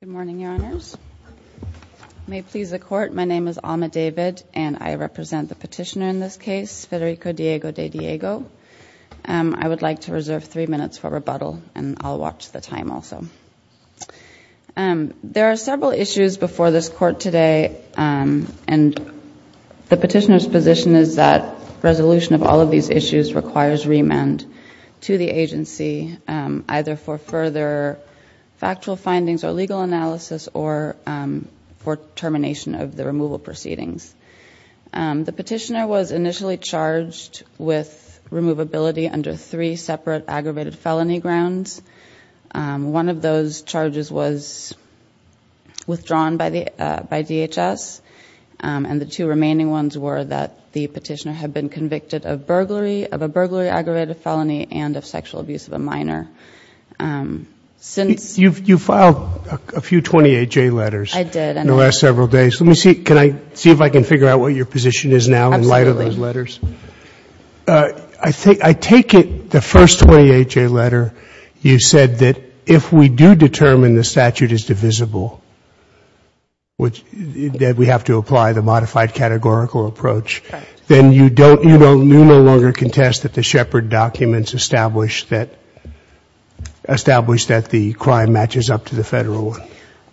Good morning, your honors. May it please the court, my name is Alma David and I represent the petitioner in this case, Federico Diego De Diego. I would like to reserve three minutes for rebuttal and I'll watch the time also. There are several issues before this court today and the petitioner's position is that resolution of all of these issues requires remand to the agency, either for further factual findings or legal analysis or for termination of the removal proceedings. The petitioner was initially charged with removability under three separate aggravated felony grounds. One of those charges was withdrawn by DHS and the two remaining ones were that the petitioner had been convicted of burglary, aggravated felony and of sexual abuse of a minor. You filed a few 28-J letters in the last several days. Let me see if I can figure out what your position is now in light of those letters. I take it the first 28-J letter you said that if we do determine the statute is divisible, that we have to apply the modified categorical approach, then you no longer contest that the Shepard documents establish that the crime matches up to the Federal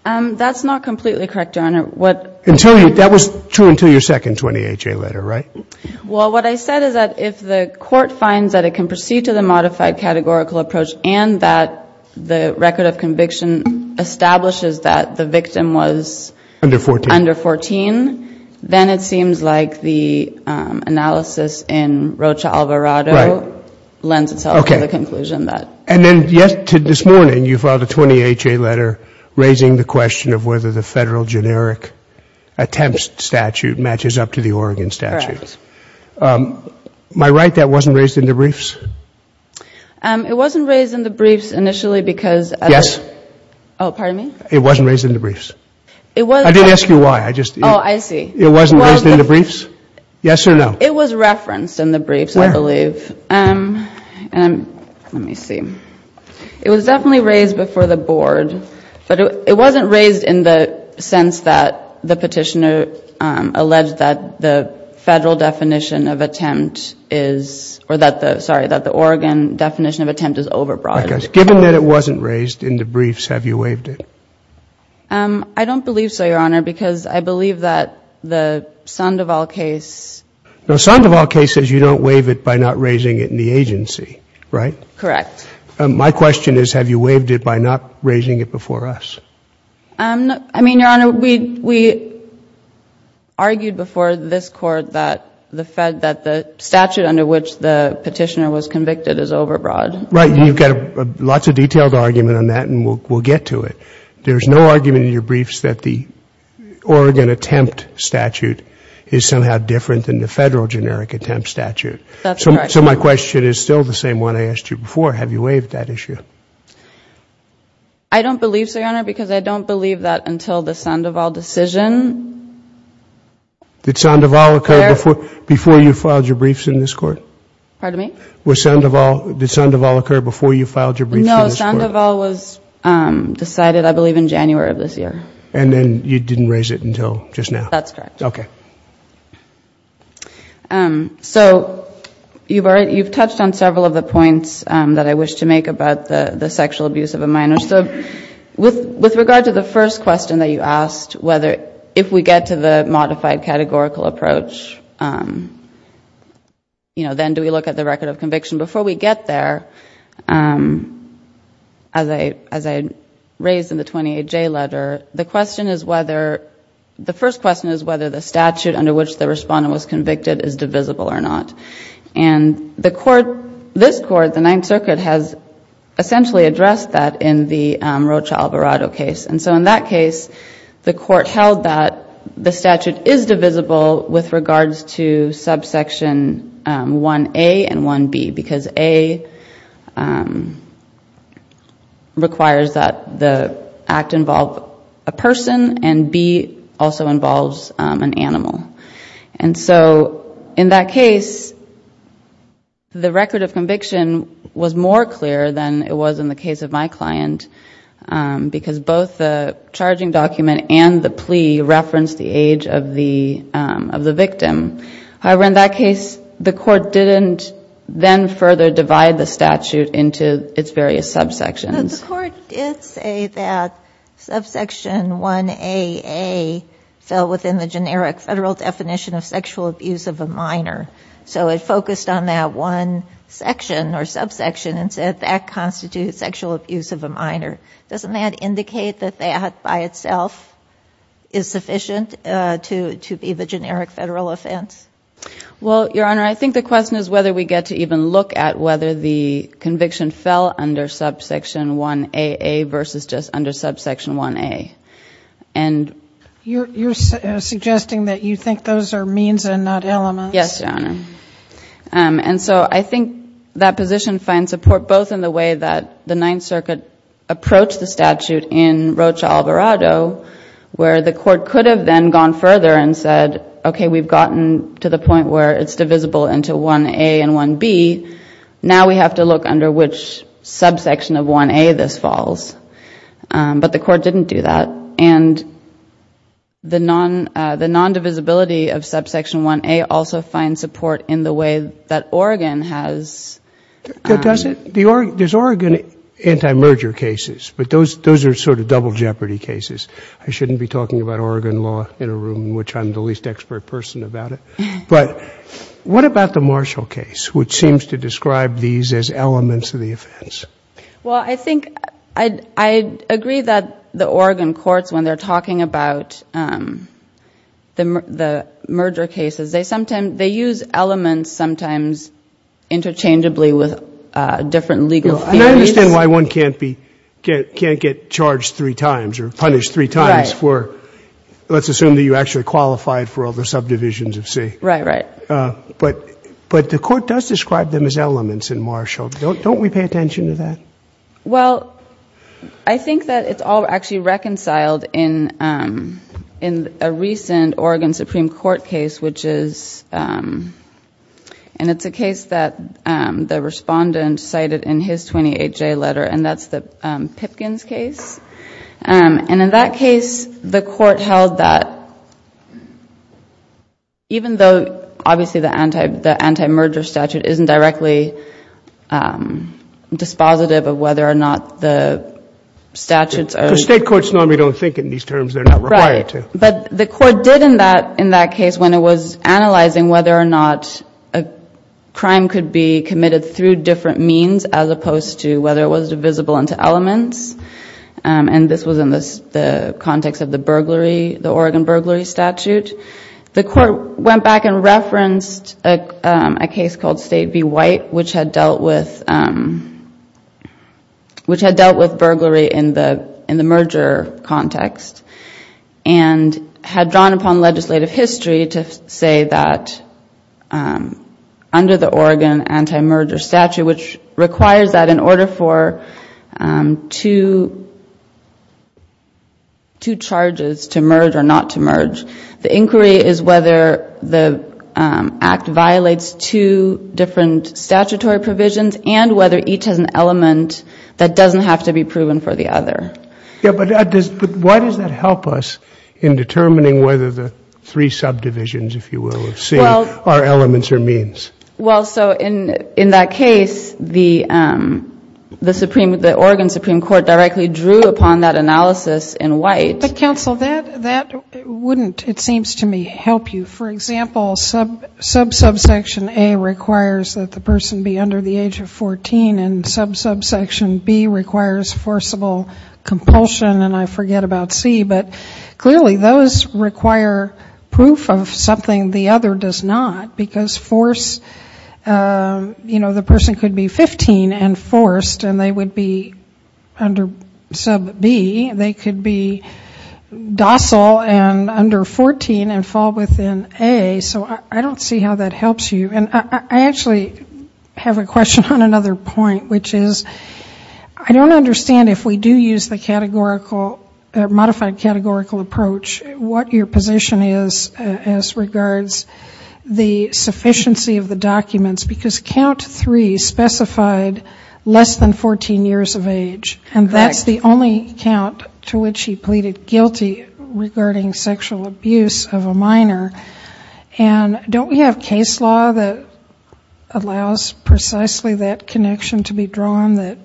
one? That's not completely correct, Your Honor. That was true until your second 28-J letter, right? Well, what I said is that if the court finds that it can proceed to the modified categorical approach and that the record of conviction establishes that the victim was under 14, then it seems like the analysis in Rocha Alvarado lends itself to the conclusion that. And then this morning you filed a 28-J letter raising the question of whether the Federal generic attempts statute matches up to the Oregon statute. Correct. Am I right that wasn't raised in the briefs? It wasn't raised in the briefs initially because. Yes. Oh, pardon me? It wasn't raised in the briefs. It was. I didn't ask you why. I just. Oh, I see. It wasn't raised in the briefs? Yes or no? It was referenced in the briefs, I believe. Where? Let me see. It was definitely raised before the Board, but it wasn't raised in the sense that the Petitioner alleged that the Federal definition of attempt is or that the, sorry, that the Oregon definition of attempt is overbroad. Okay. Given that it wasn't raised in the briefs, have you waived it? I don't believe so, Your Honor, because I believe that the Sandoval case. No, Sandoval case says you don't waive it by not raising it in the agency, right? Correct. My question is have you waived it by not raising it before us? I mean, Your Honor, we argued before this Court that the statute under which the Petitioner was convicted is overbroad. Right. You've got lots of detailed argument on that, and we'll get to it. There's no argument in your briefs that the Oregon attempt statute is somehow different than the Federal generic attempt statute. That's correct. So my question is still the same one I asked you before. Have you waived that issue? I don't believe so, Your Honor, because I don't believe that until the Sandoval decision. Did Sandoval occur before you filed your briefs in this Court? Pardon me? Did Sandoval occur before you filed your briefs in this Court? No, Sandoval was decided, I believe, in January of this year. And then you didn't raise it until just now? That's correct. Okay. So you've touched on several of the points that I wish to make about the sexual abuse of a minor. So with regard to the first question that you asked, if we get to the modified categorical approach, then do we look at the record of conviction? Before we get there, as I raised in the 28J letter, the first question is whether the statute under which the respondent was convicted is divisible or not. And this Court, the Ninth Circuit, has essentially addressed that in the Rocha-Alvarado case. And so in that case, the Court held that the statute is divisible with regards to subsection 1A and 1B, because A requires that the act involve a person and B also involves an animal. And so in that case, the record of conviction was more clear than it was in the case of my client because both the charging document and the plea referenced the age of the victim. However, in that case, the Court didn't then further divide the statute into its various subsections. No, the Court did say that subsection 1AA fell within the generic Federal definition of sexual abuse of a minor. So it focused on that one section or subsection and said that constitutes sexual abuse of a minor. Doesn't that indicate that that by itself is sufficient to be the generic Federal offense? Well, Your Honor, I think the question is whether we get to even look at whether the conviction fell under subsection 1AA versus just under subsection 1A. You're suggesting that you think those are means and not elements? Yes, Your Honor. And so I think that position finds support both in the way that the Ninth Circuit approached the statute in Rocha-Alvarado where the Court could have then gone further and said, okay, we've gotten to the point where it's divisible into 1A and 1B. Now we have to look under which subsection of 1A this falls. But the Court didn't do that. And the nondivisibility of subsection 1A also finds support in the way that Oregon has. Does it? There's Oregon anti-merger cases, but those are sort of double jeopardy cases. I shouldn't be talking about Oregon law in a room in which I'm the least expert person about it. But what about the Marshall case, which seems to describe these as elements of the offense? Well, I think I agree that the Oregon courts, when they're talking about the merger cases, they use elements sometimes interchangeably with different legal theories. And I understand why one can't get charged three times or punished three times for, let's assume that you actually qualified for all the subdivisions of C. Right, right. But the Court does describe them as elements in Marshall. Don't we pay attention to that? Well, I think that it's all actually reconciled in a recent Oregon Supreme Court case, which is a case that the respondent cited in his 28-J letter, and that's the Pipkins case. And in that case, the Court held that even though, obviously, the anti-merger statute isn't directly dispositive of whether or not the statutes are. State courts normally don't think in these terms. They're not required to. Right. But the Court did in that case when it was analyzing whether or not a crime could be committed through different means as opposed to whether it was divisible into elements. And this was in the context of the burglary, the Oregon burglary statute. The Court went back and referenced a case called State v. White, which had dealt with burglary in the merger context and had drawn upon legislative history to say that under the Oregon anti-merger statute, which requires that in order for two charges to merge or not to merge, the inquiry is whether the Act violates two different statutory provisions and whether each has an element that doesn't have to be proven for the other. Yeah, but why does that help us in determining whether the three subdivisions, if you will, of C are elements or means? Well, so in that case, the Oregon Supreme Court directly drew upon that analysis in White. But, counsel, that wouldn't, it seems to me, help you. For example, sub subsection A requires that the person be under the age of 14 and sub subsection B requires forcible compulsion and I forget about C. But clearly those require proof of something the other does not. Because force, you know, the person could be 15 and forced and they would be under sub B. They could be docile and under 14 and fall within A. So I don't see how that helps you. And I actually have a question on another point, which is I don't understand if we do use the categorical, modified categorical approach, what your position is as regards the sufficiency of the documents. Because count three specified less than 14 years of age. And that's the only count to which he pleaded guilty regarding sexual abuse of a minor. And don't we have case law that allows precisely that connection to be drawn, that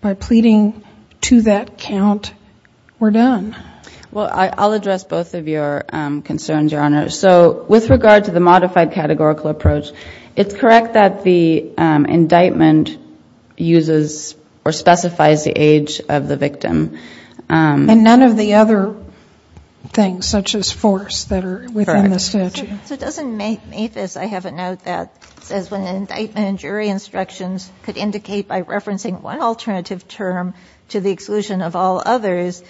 by pleading to that count, we're done? Well, I'll address both of your concerns, Your Honor. So with regard to the modified categorical approach, it's correct that the indictment uses or specifies the age of the victim. And none of the other things such as force that are within the statute. Correct. So doesn't Mathis, I have a note that says when an indictment and jury instructions could indicate by referencing one alternative term to the exclusion of all others,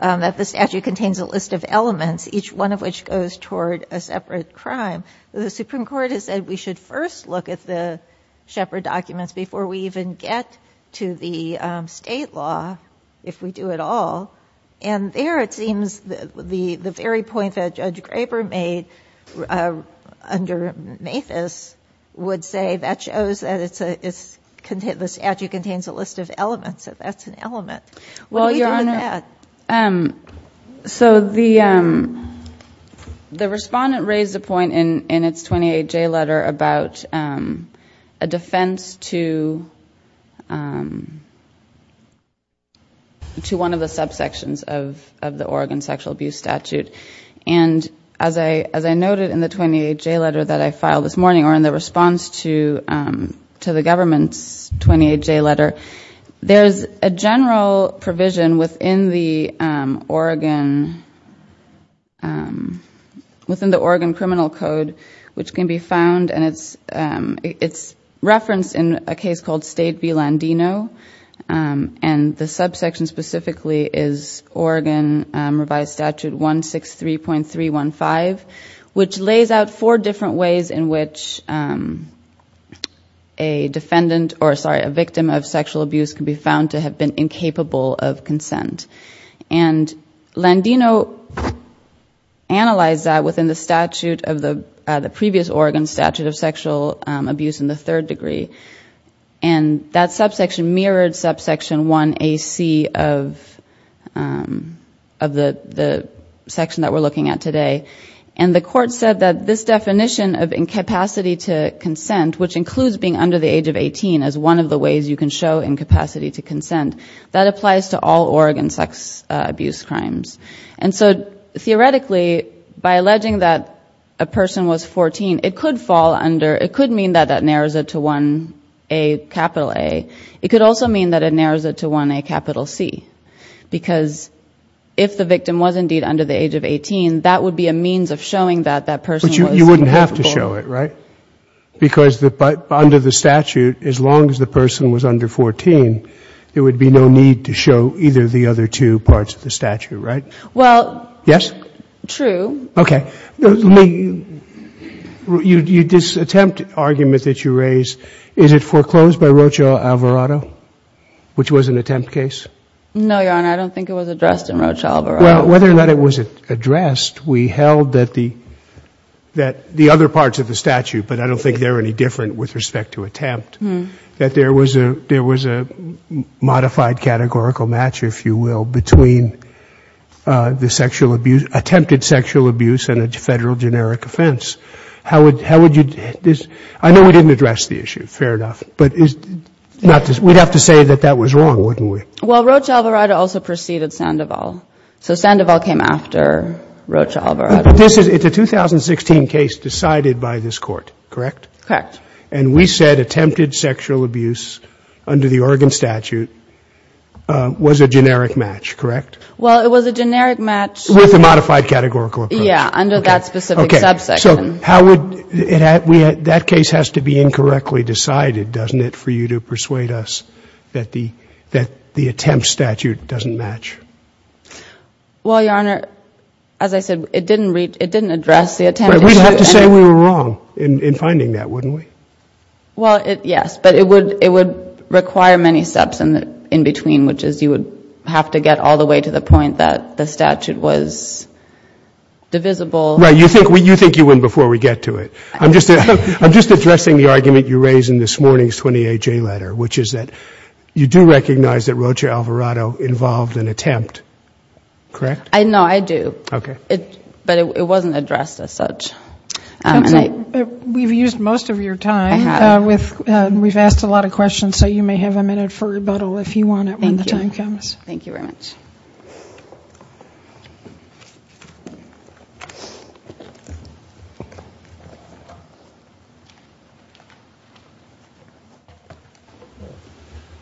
that the statute contains a list of elements, each one of which goes toward a separate crime. The Supreme Court has said we should first look at the Shepard documents before we even get to the state law, if we do at all. And there it seems the very point that Judge Graber made under Mathis would say that shows that the statute contains a list of elements, that that's an element. What do you do with that? So the respondent raised a point in its 28J letter about a defense to one of the subsections of the Oregon sexual abuse statute. And as I noted in the 28J letter that I filed this morning, or in the response to the government's 28J letter, there's a general provision within the Oregon Criminal Code which can be found, and it's referenced in a case called State v. Landino. And the subsection specifically is Oregon Revised Statute 163.315, which lays out four different ways in which a victim of sexual abuse can be found to have been incapable of consent. And Landino analyzed that within the previous Oregon statute of sexual abuse in the third degree. And that subsection mirrored subsection 1AC of the section that we're looking at today. And the court said that this definition of incapacity to consent, which includes being under the age of 18 as one of the ways you can show incapacity to consent, that applies to all Oregon sex abuse crimes. And so theoretically, by alleging that a person was 14, it could fall under, it could mean that that narrows it to 1A capital A. It could also mean that it narrows it to 1A capital C, because if the victim was indeed under the age of 18, that would be a means of showing that that person was incapable. But you wouldn't have to show it, right? Because under the statute, as long as the person was under 14, there would be no need to show either of the other two parts of the statute, right? Yes? True. Okay. This attempt argument that you raised, is it foreclosed by Rocha Alvarado, which was an attempt case? No, Your Honor. I don't think it was addressed in Rocha Alvarado. Well, whether or not it was addressed, we held that the other parts of the statute, but I don't think they're any different with respect to attempt, that there was a modified categorical match, if you will, between the sexual abuse, attempted sexual abuse and a Federal generic offense. How would you, I know we didn't address the issue, fair enough. But we'd have to say that that was wrong, wouldn't we? Well, Rocha Alvarado also preceded Sandoval. So Sandoval came after Rocha Alvarado. But this is, it's a 2016 case decided by this Court, correct? Correct. And we said attempted sexual abuse under the Oregon statute was a generic match, correct? Well, it was a generic match. With a modified categorical approach. Yeah, under that specific subsection. Okay. So how would, that case has to be incorrectly decided, doesn't it, for you to persuade us that the attempt statute doesn't match? Well, Your Honor, as I said, it didn't address the attempt issue. We'd have to say we were wrong in finding that, wouldn't we? Well, yes. But it would require many steps in between, which is you would have to get all the way to the point that the statute was divisible. Right. You think you win before we get to it. I'm just addressing the argument you raised in this morning's 28-J letter, which is that you do recognize that Rocha Alvarado involved an attempt, correct? No, I do. Okay. But it wasn't addressed as such. Counsel, we've used most of your time. We've asked a lot of questions, so you may have a minute for rebuttal if you want it when the time comes. Thank you. Thank you very much.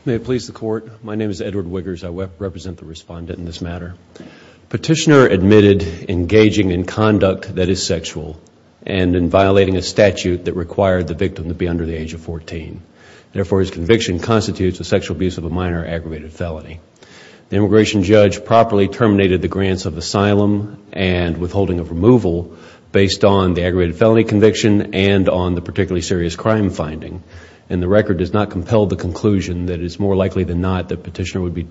May it please the Court, my name is Edward Wiggers. I represent the respondent in this matter. Petitioner admitted engaging in conduct that is sexual and in violating a statute that required the victim to be under the age of 14. Therefore, his conviction constitutes a sexual abuse of a minor aggravated felony. The immigration judge properly terminated the grants of asylum and withholding of removal based on the aggravated felony conviction and on the particularly serious crime finding. The record does not compel the conclusion that it's more likely than not that the petitioner would be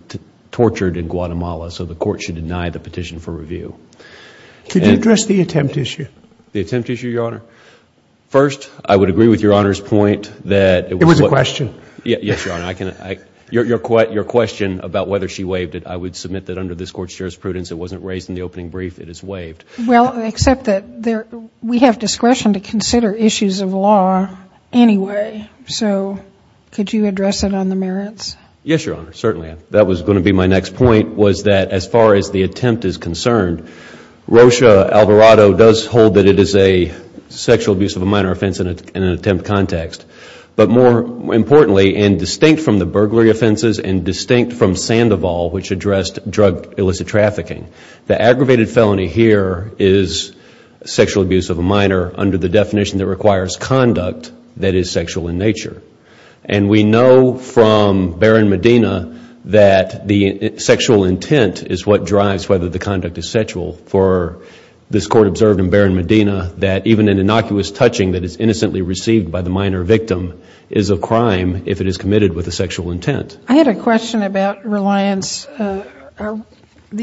tortured in Guatemala, so the Court should deny the petition for review. Could you address the attempt issue? The attempt issue, Your Honor? First, I would agree with Your Honor's point that... It was a question. Yes, Your Honor. Your question about whether she waived it, I would submit that under this Court's jurisprudence it wasn't raised in the opening brief. It is waived. Well, except that we have discretion to consider issues of law anyway, so could you address it on the merits? Yes, Your Honor, certainly. That was going to be my next point, was that as far as the attempt is concerned, Rocha-Alvarado does hold that it is a sexual abuse of a minor offense in an attempt context. But more importantly, and distinct from the burglary offenses and distinct from Sandoval, which addressed drug illicit trafficking, the aggravated felony here is sexual abuse of a minor under the definition that requires conduct that is sexual in nature. And we know from Barron-Medina that the sexual intent is what drives whether the conduct is sexual. For this Court observed in Barron-Medina that even an innocuous touching that is innocently received by the minor victim is a crime if it is committed with a sexual intent. I had a question about reliance, the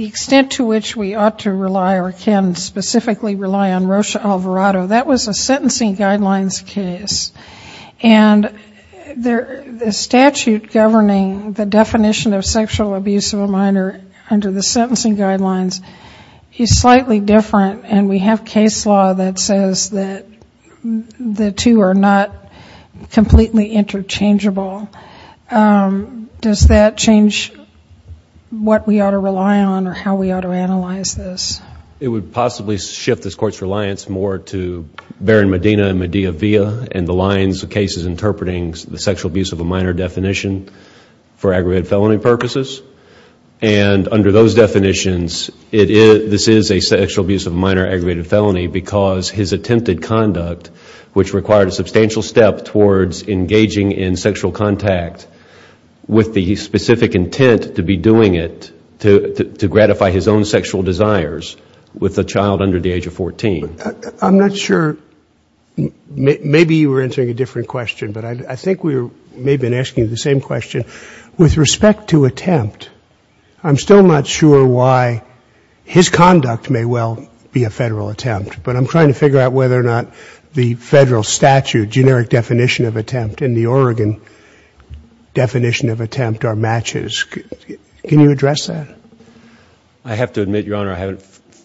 extent to which we ought to rely or can specifically rely on Rocha-Alvarado. That was a sentencing guidelines case. And the statute governing the definition of sexual abuse of a minor under the sentencing guidelines is slightly different, and we have case law that says that the two are not completely interchangeable. Does that change what we ought to rely on or how we ought to analyze this? It would possibly shift this Court's reliance more to Barron-Medina and the lines of cases interpreting the sexual abuse of a minor definition for aggravated felony purposes. And under those definitions, this is a sexual abuse of a minor aggravated felony because his attempted conduct, which required a substantial step towards engaging in sexual contact with the specific intent to be doing it to gratify his own sexual desires with a child under the age of 14. I'm not sure. Maybe you were answering a different question, but I think we may have been asking you the same question. With respect to attempt, I'm still not sure why his conduct may well be a Federal attempt, but I'm trying to figure out whether or not the Federal statute generic definition of attempt and the Oregon definition of attempt are matches. Can you address that?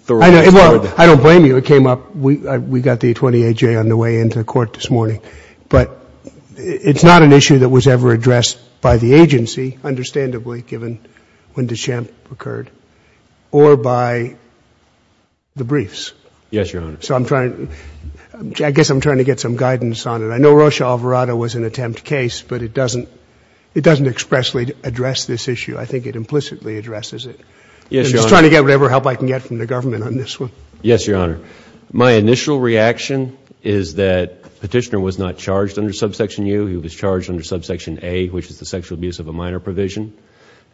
Well, I don't blame you. It came up. We got the 28-J on the way into court this morning. But it's not an issue that was ever addressed by the agency, understandably, given when DeChamp occurred, or by the briefs. Yes, Your Honor. So I'm trying to get some guidance on it. I know Rosha Alvarado was an attempt case, but it doesn't expressly address this issue. I think it implicitly addresses it. Yes, Your Honor. I'm just trying to get whatever help I can get from the government on this one. Yes, Your Honor. My initial reaction is that Petitioner was not charged under Subsection U. He was charged under Subsection A, which is the sexual abuse of a minor provision.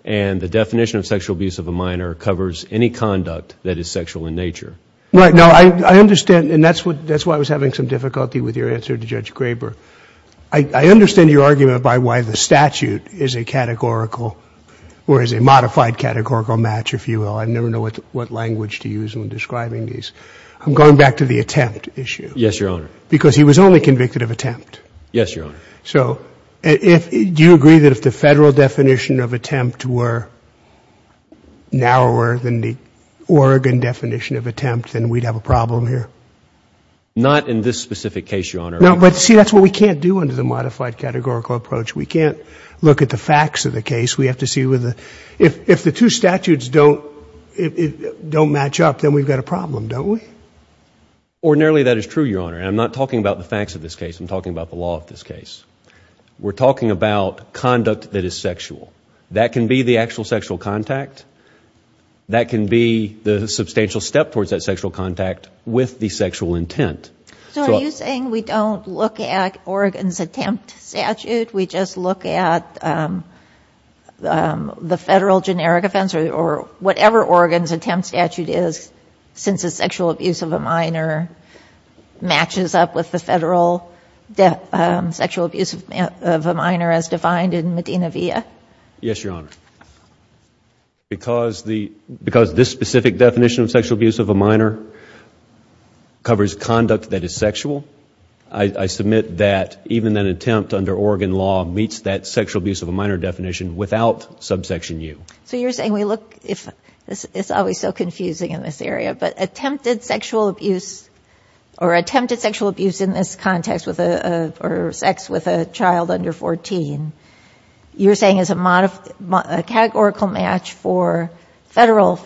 And the definition of sexual abuse of a minor covers any conduct that is sexual in nature. Right. No, I understand, and that's why I was having some difficulty with your answer to Judge Graber. I understand your argument by why the statute is a categorical, or is a modified categorical match, if you will. I never know what language to use when describing these. I'm going back to the attempt issue. Yes, Your Honor. Because he was only convicted of attempt. Yes, Your Honor. So do you agree that if the Federal definition of attempt were narrower than the Oregon definition of attempt, then we'd have a problem here? Not in this specific case, Your Honor. No, but see, that's what we can't do under the modified categorical approach. We can't look at the facts of the case. If the two statutes don't match up, then we've got a problem, don't we? Ordinarily, that is true, Your Honor, and I'm not talking about the facts of this case. I'm talking about the law of this case. We're talking about conduct that is sexual. That can be the actual sexual contact. That can be the substantial step towards that sexual contact with the sexual intent. So are you saying we don't look at Oregon's attempt statute? We just look at the Federal generic offense or whatever Oregon's attempt statute is, since the sexual abuse of a minor matches up with the Federal sexual abuse of a minor as defined in Medina via? Yes, Your Honor. Because this specific definition of sexual abuse of a minor covers conduct that is sexual, I submit that even an attempt under Oregon law meets that sexual abuse of a minor definition without subsection U. So you're saying we look, it's always so confusing in this area, but attempted sexual abuse in this context or sex with a child under 14, you're saying is a categorical match for Federal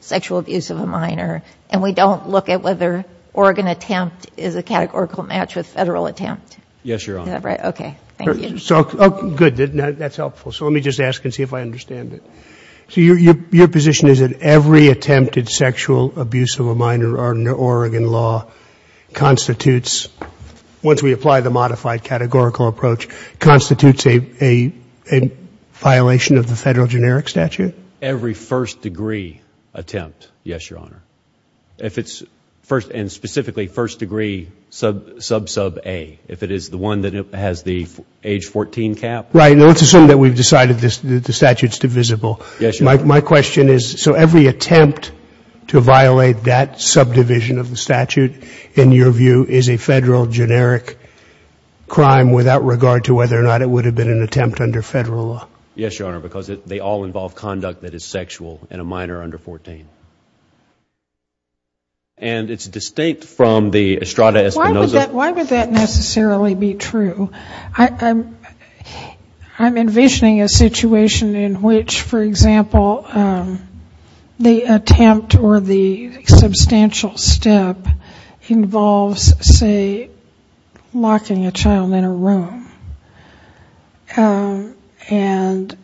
sexual abuse of a minor, and we don't look at whether Oregon attempt is a categorical match with Federal attempt? Yes, Your Honor. Is that right? Okay. Thank you. Good. That's helpful. So let me just ask and see if I understand it. So your position is that every attempted sexual abuse of a minor under Oregon law constitutes, once we apply the modified categorical approach, constitutes a violation of the Federal generic statute? Every first degree attempt, yes, Your Honor. If it's first and specifically first degree sub-sub A, if it is the one that has the age 14 cap. Right. Now, let's assume that we've decided the statute's divisible. Yes, Your Honor. My question is, so every attempt to violate that subdivision of the statute, in your view, is a Federal generic crime without regard to whether or not it would have been an attempt under Federal law? Yes, Your Honor, because they all involve conduct that is sexual in a minor under 14. And it's distinct from the Estrada Espinoza. Why would that necessarily be true? So I'm envisioning a situation in which, for example, the attempt or the substantial step involves, say, locking a child in a room and,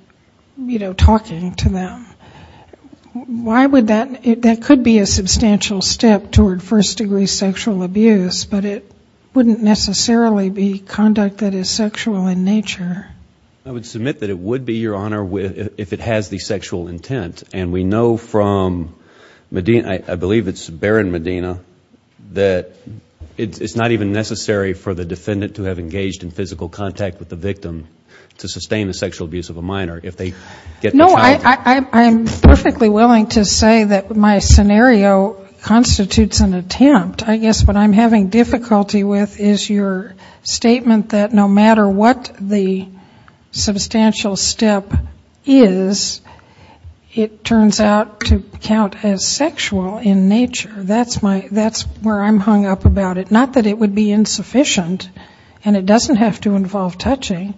you know, talking to them. Why would that, that could be a substantial step toward first degree sexual abuse, but it wouldn't necessarily be conduct that is sexual in nature? I would submit that it would be, Your Honor, if it has the sexual intent. And we know from Medina, I believe it's Barron Medina, that it's not even necessary for the defendant to have engaged in physical contact with the victim to sustain the sexual abuse of a minor if they get the child to. No, I'm perfectly willing to say that my scenario constitutes an attempt. I guess what I'm having difficulty with is your statement that no matter what the substantial step is, it turns out to count as sexual in nature. That's my, that's where I'm hung up about it. Not that it would be insufficient and it doesn't have to involve touching.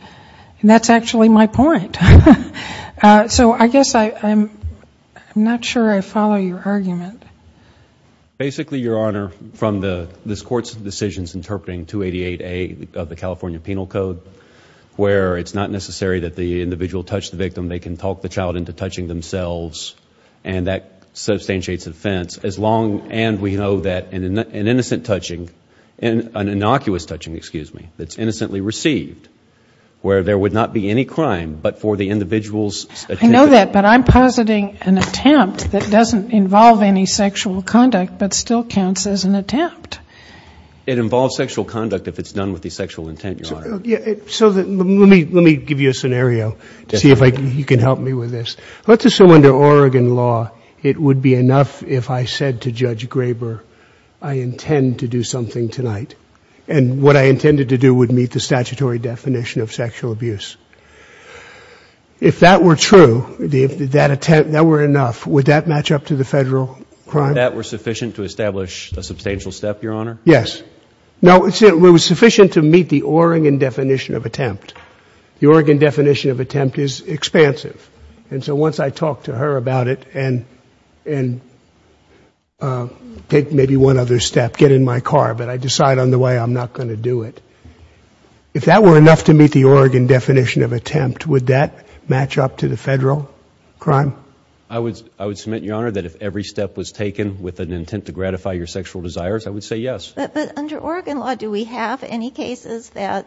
And that's actually my point. So I guess I'm not sure I follow your argument. Basically, Your Honor, from this Court's decisions interpreting 288A of the California Penal Code, where it's not necessary that the individual touch the victim, they can talk the child into touching themselves, and that substantiates offense. And we know that an innocent touching, an innocuous touching, excuse me, that's innocently received, where there would not be any crime but for the individual's intent. I know that, but I'm positing an attempt that doesn't involve any sexual conduct but still counts as an attempt. It involves sexual conduct if it's done with the sexual intent, Your Honor. So let me give you a scenario to see if you can help me with this. Let's assume under Oregon law it would be enough if I said to Judge Graber, I intend to do something tonight. And what I intended to do would meet the statutory definition of sexual abuse. If that were true, if that attempt, that were enough, would that match up to the Federal crime? If that were sufficient to establish a substantial step, Your Honor? Yes. No, it was sufficient to meet the Oregon definition of attempt. The Oregon definition of attempt is expansive. And so once I talk to her about it and take maybe one other step, get in my car, but I decide on the way I'm not going to do it, if that were enough to meet the Oregon definition of attempt, would that match up to the Federal crime? I would submit, Your Honor, that if every step was taken with an intent to gratify your sexual desires, I would say yes. But under Oregon law, do we have any cases that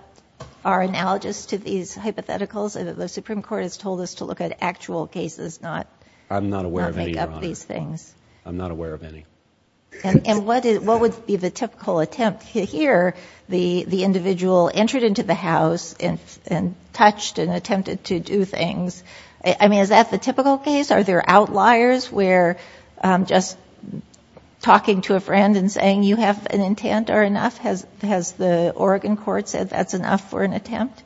are analogous to these hypotheticals? The Supreme Court has told us to look at actual cases, not make up these things. I'm not aware of any, Your Honor. I'm not aware of any. And what would be the typical attempt? Here, the individual entered into the house and touched and attempted to do things. I mean, is that the typical case? Are there outliers where just talking to a friend and saying you have an intent are enough? Has the Oregon court said that's enough for an attempt?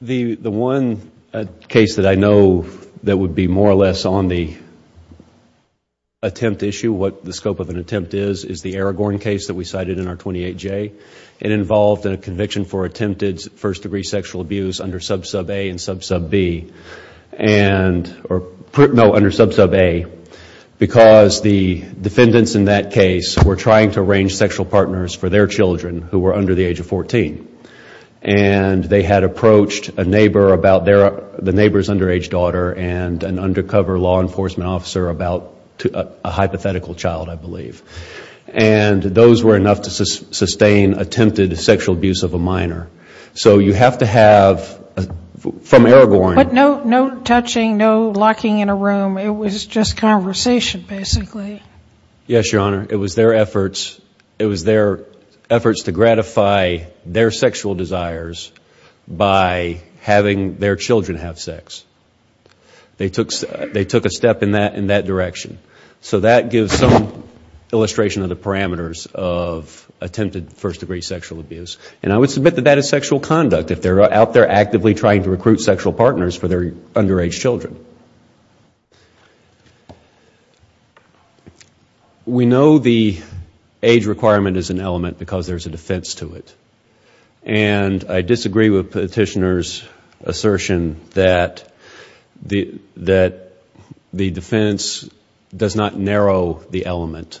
The one case that I know that would be more or less on the attempt issue, what the scope of an attempt is, is the Aragorn case that we cited in our 28J. It involved a conviction for attempted first-degree sexual abuse under sub-sub A and sub-sub B. No, under sub-sub A, because the defendants in that case were trying to arrange sexual partners for their children who were under the age of 14. And they had approached a neighbor about the neighbor's underage daughter and an undercover law enforcement officer about a hypothetical child, I believe. And those were enough to sustain attempted sexual abuse of a minor. So you have to have, from Aragorn... But no touching, no locking in a room, it was just conversation, basically. Yes, Your Honor. It was their efforts to gratify their sexual desires by having their children have sex. They took a step in that direction. So that gives some illustration of the parameters of attempted first-degree sexual abuse. And I would submit that that is sexual conduct, if they're out there actively trying to recruit sexual partners for their underage children. We know the age requirement is an element because there's a defense to it. And I disagree with Petitioner's assertion that the defense does not narrow the element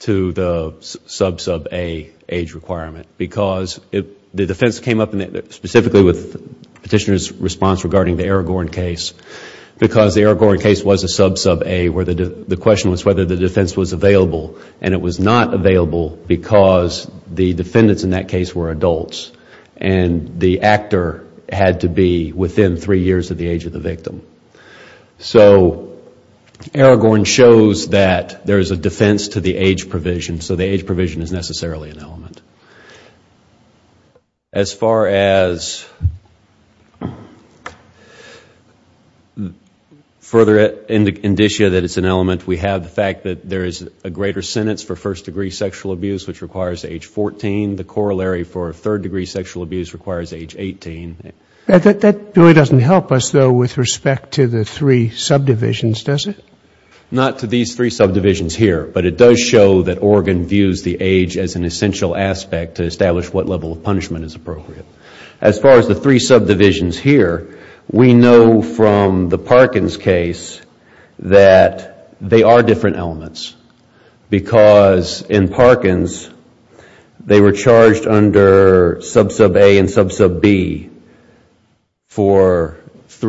to the sub-sub A age requirement. Because the defense came up specifically with Petitioner's response regarding the Aragorn case. Because the Aragorn case was a sub-sub A where the question was whether the defense was available. And it was not available because the defendants in that case were adults. And the actor had to be within three years of the age of the victim. So Aragorn shows that there is a defense to the age provision. So the age provision is necessarily an element. As far as further indicia that it's an element, we have the fact that there is a greater sentence for first-degree sexual abuse, which requires age 14. The corollary for third-degree sexual abuse requires age 18. That really doesn't help us, though, with respect to the three subdivisions, does it? Not to these three subdivisions here, but it does show that Oregon views the age as an essential aspect to establish what level of punishment is appropriate. As far as the three subdivisions here, we know from the Parkins case that they are different elements. Because in Parkins, they were charged under sub-sub A and sub-sub B, which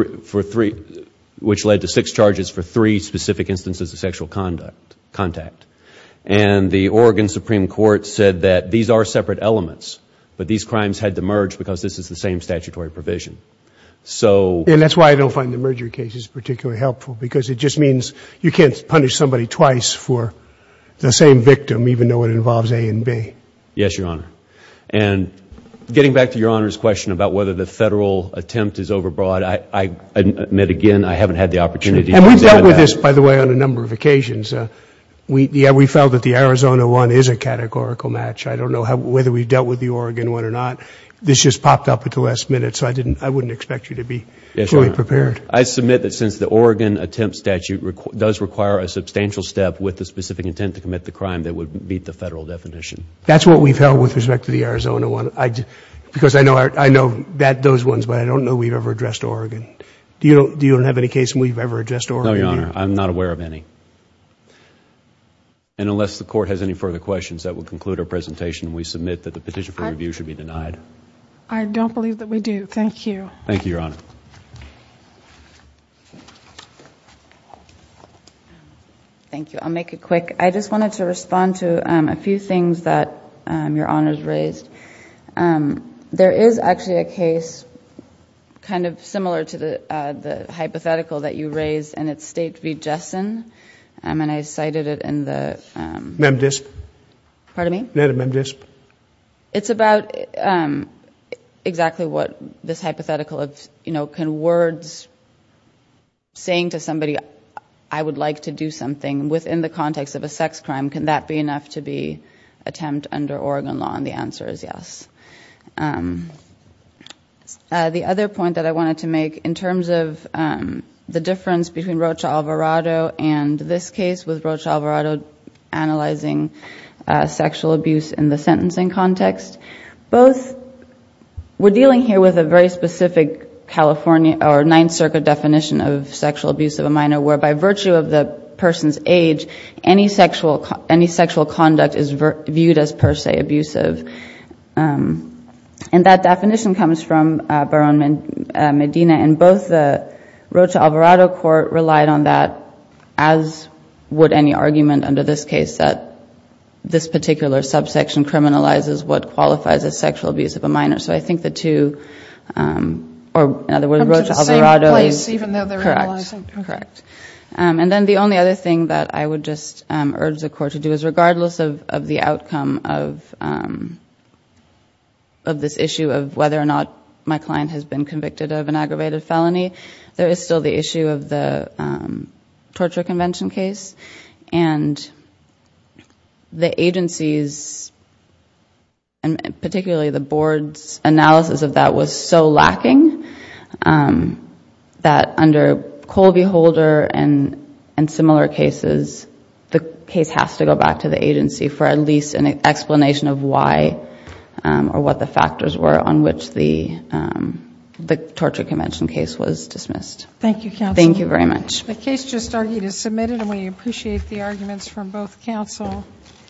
led to six charges for three specific instances of sexual contact. And the Oregon Supreme Court said that these are separate elements, but these crimes had to merge because this is the same statutory provision. And that's why I don't find the merger cases particularly helpful, because it just means you can't punish somebody twice for the same victim, even though it involves A and B. Yes, Your Honor. And we've dealt with this, by the way, on a number of occasions. We felt that the Arizona one is a categorical match. I don't know whether we've dealt with the Oregon one or not. This just popped up at the last minute, so I wouldn't expect you to be fully prepared. I submit that since the Oregon attempt statute does require a substantial step with the specific intent to commit the crime that would meet the Federal definition. That's what we've held with respect to the Arizona one, because I know those ones, but I don't know if we've ever addressed Oregon. Do you have any case where you've ever addressed Oregon? No, Your Honor. I'm not aware of any. And unless the Court has any further questions, that would conclude our presentation. We submit that the petition for review should be denied. I don't believe that we do. Thank you. Thank you, Your Honor. Thank you. I'll make it quick. I just wanted to respond to a few things that Your Honor's raised. There is actually a case kind of similar to the hypothetical that you raised, and it's State v. Jessen, and I cited it in the— saying to somebody, I would like to do something within the context of a sex crime. Can that be enough to be an attempt under Oregon law? And the answer is yes. The other point that I wanted to make in terms of the difference between Rocha Alvarado and this case with Rocha Alvarado analyzing sexual abuse in the sentencing context, both were dealing here with a very specific California or Ninth Circuit definition of sexual abuse of a minor where, by virtue of the person's age, any sexual conduct is viewed as per se abusive. And that definition comes from Baron Medina, and both the Rocha Alvarado Court relied on that, as would any argument under this case, that this particular subsection criminalizes what qualifies as sexual abuse of a minor. So I think the two—or in other words, Rocha Alvarado— Correct. Correct. And then the only other thing that I would just urge the Court to do is, regardless of the outcome of this issue of whether or not my client has been convicted of an aggravated felony, there is still the issue of the torture convention case. And the agency's, and particularly the Board's, analysis of that was so lacking that under Colby Holder and similar cases, the case has to go back to the agency for at least an explanation of why or what the factors were on which the torture convention case was dismissed.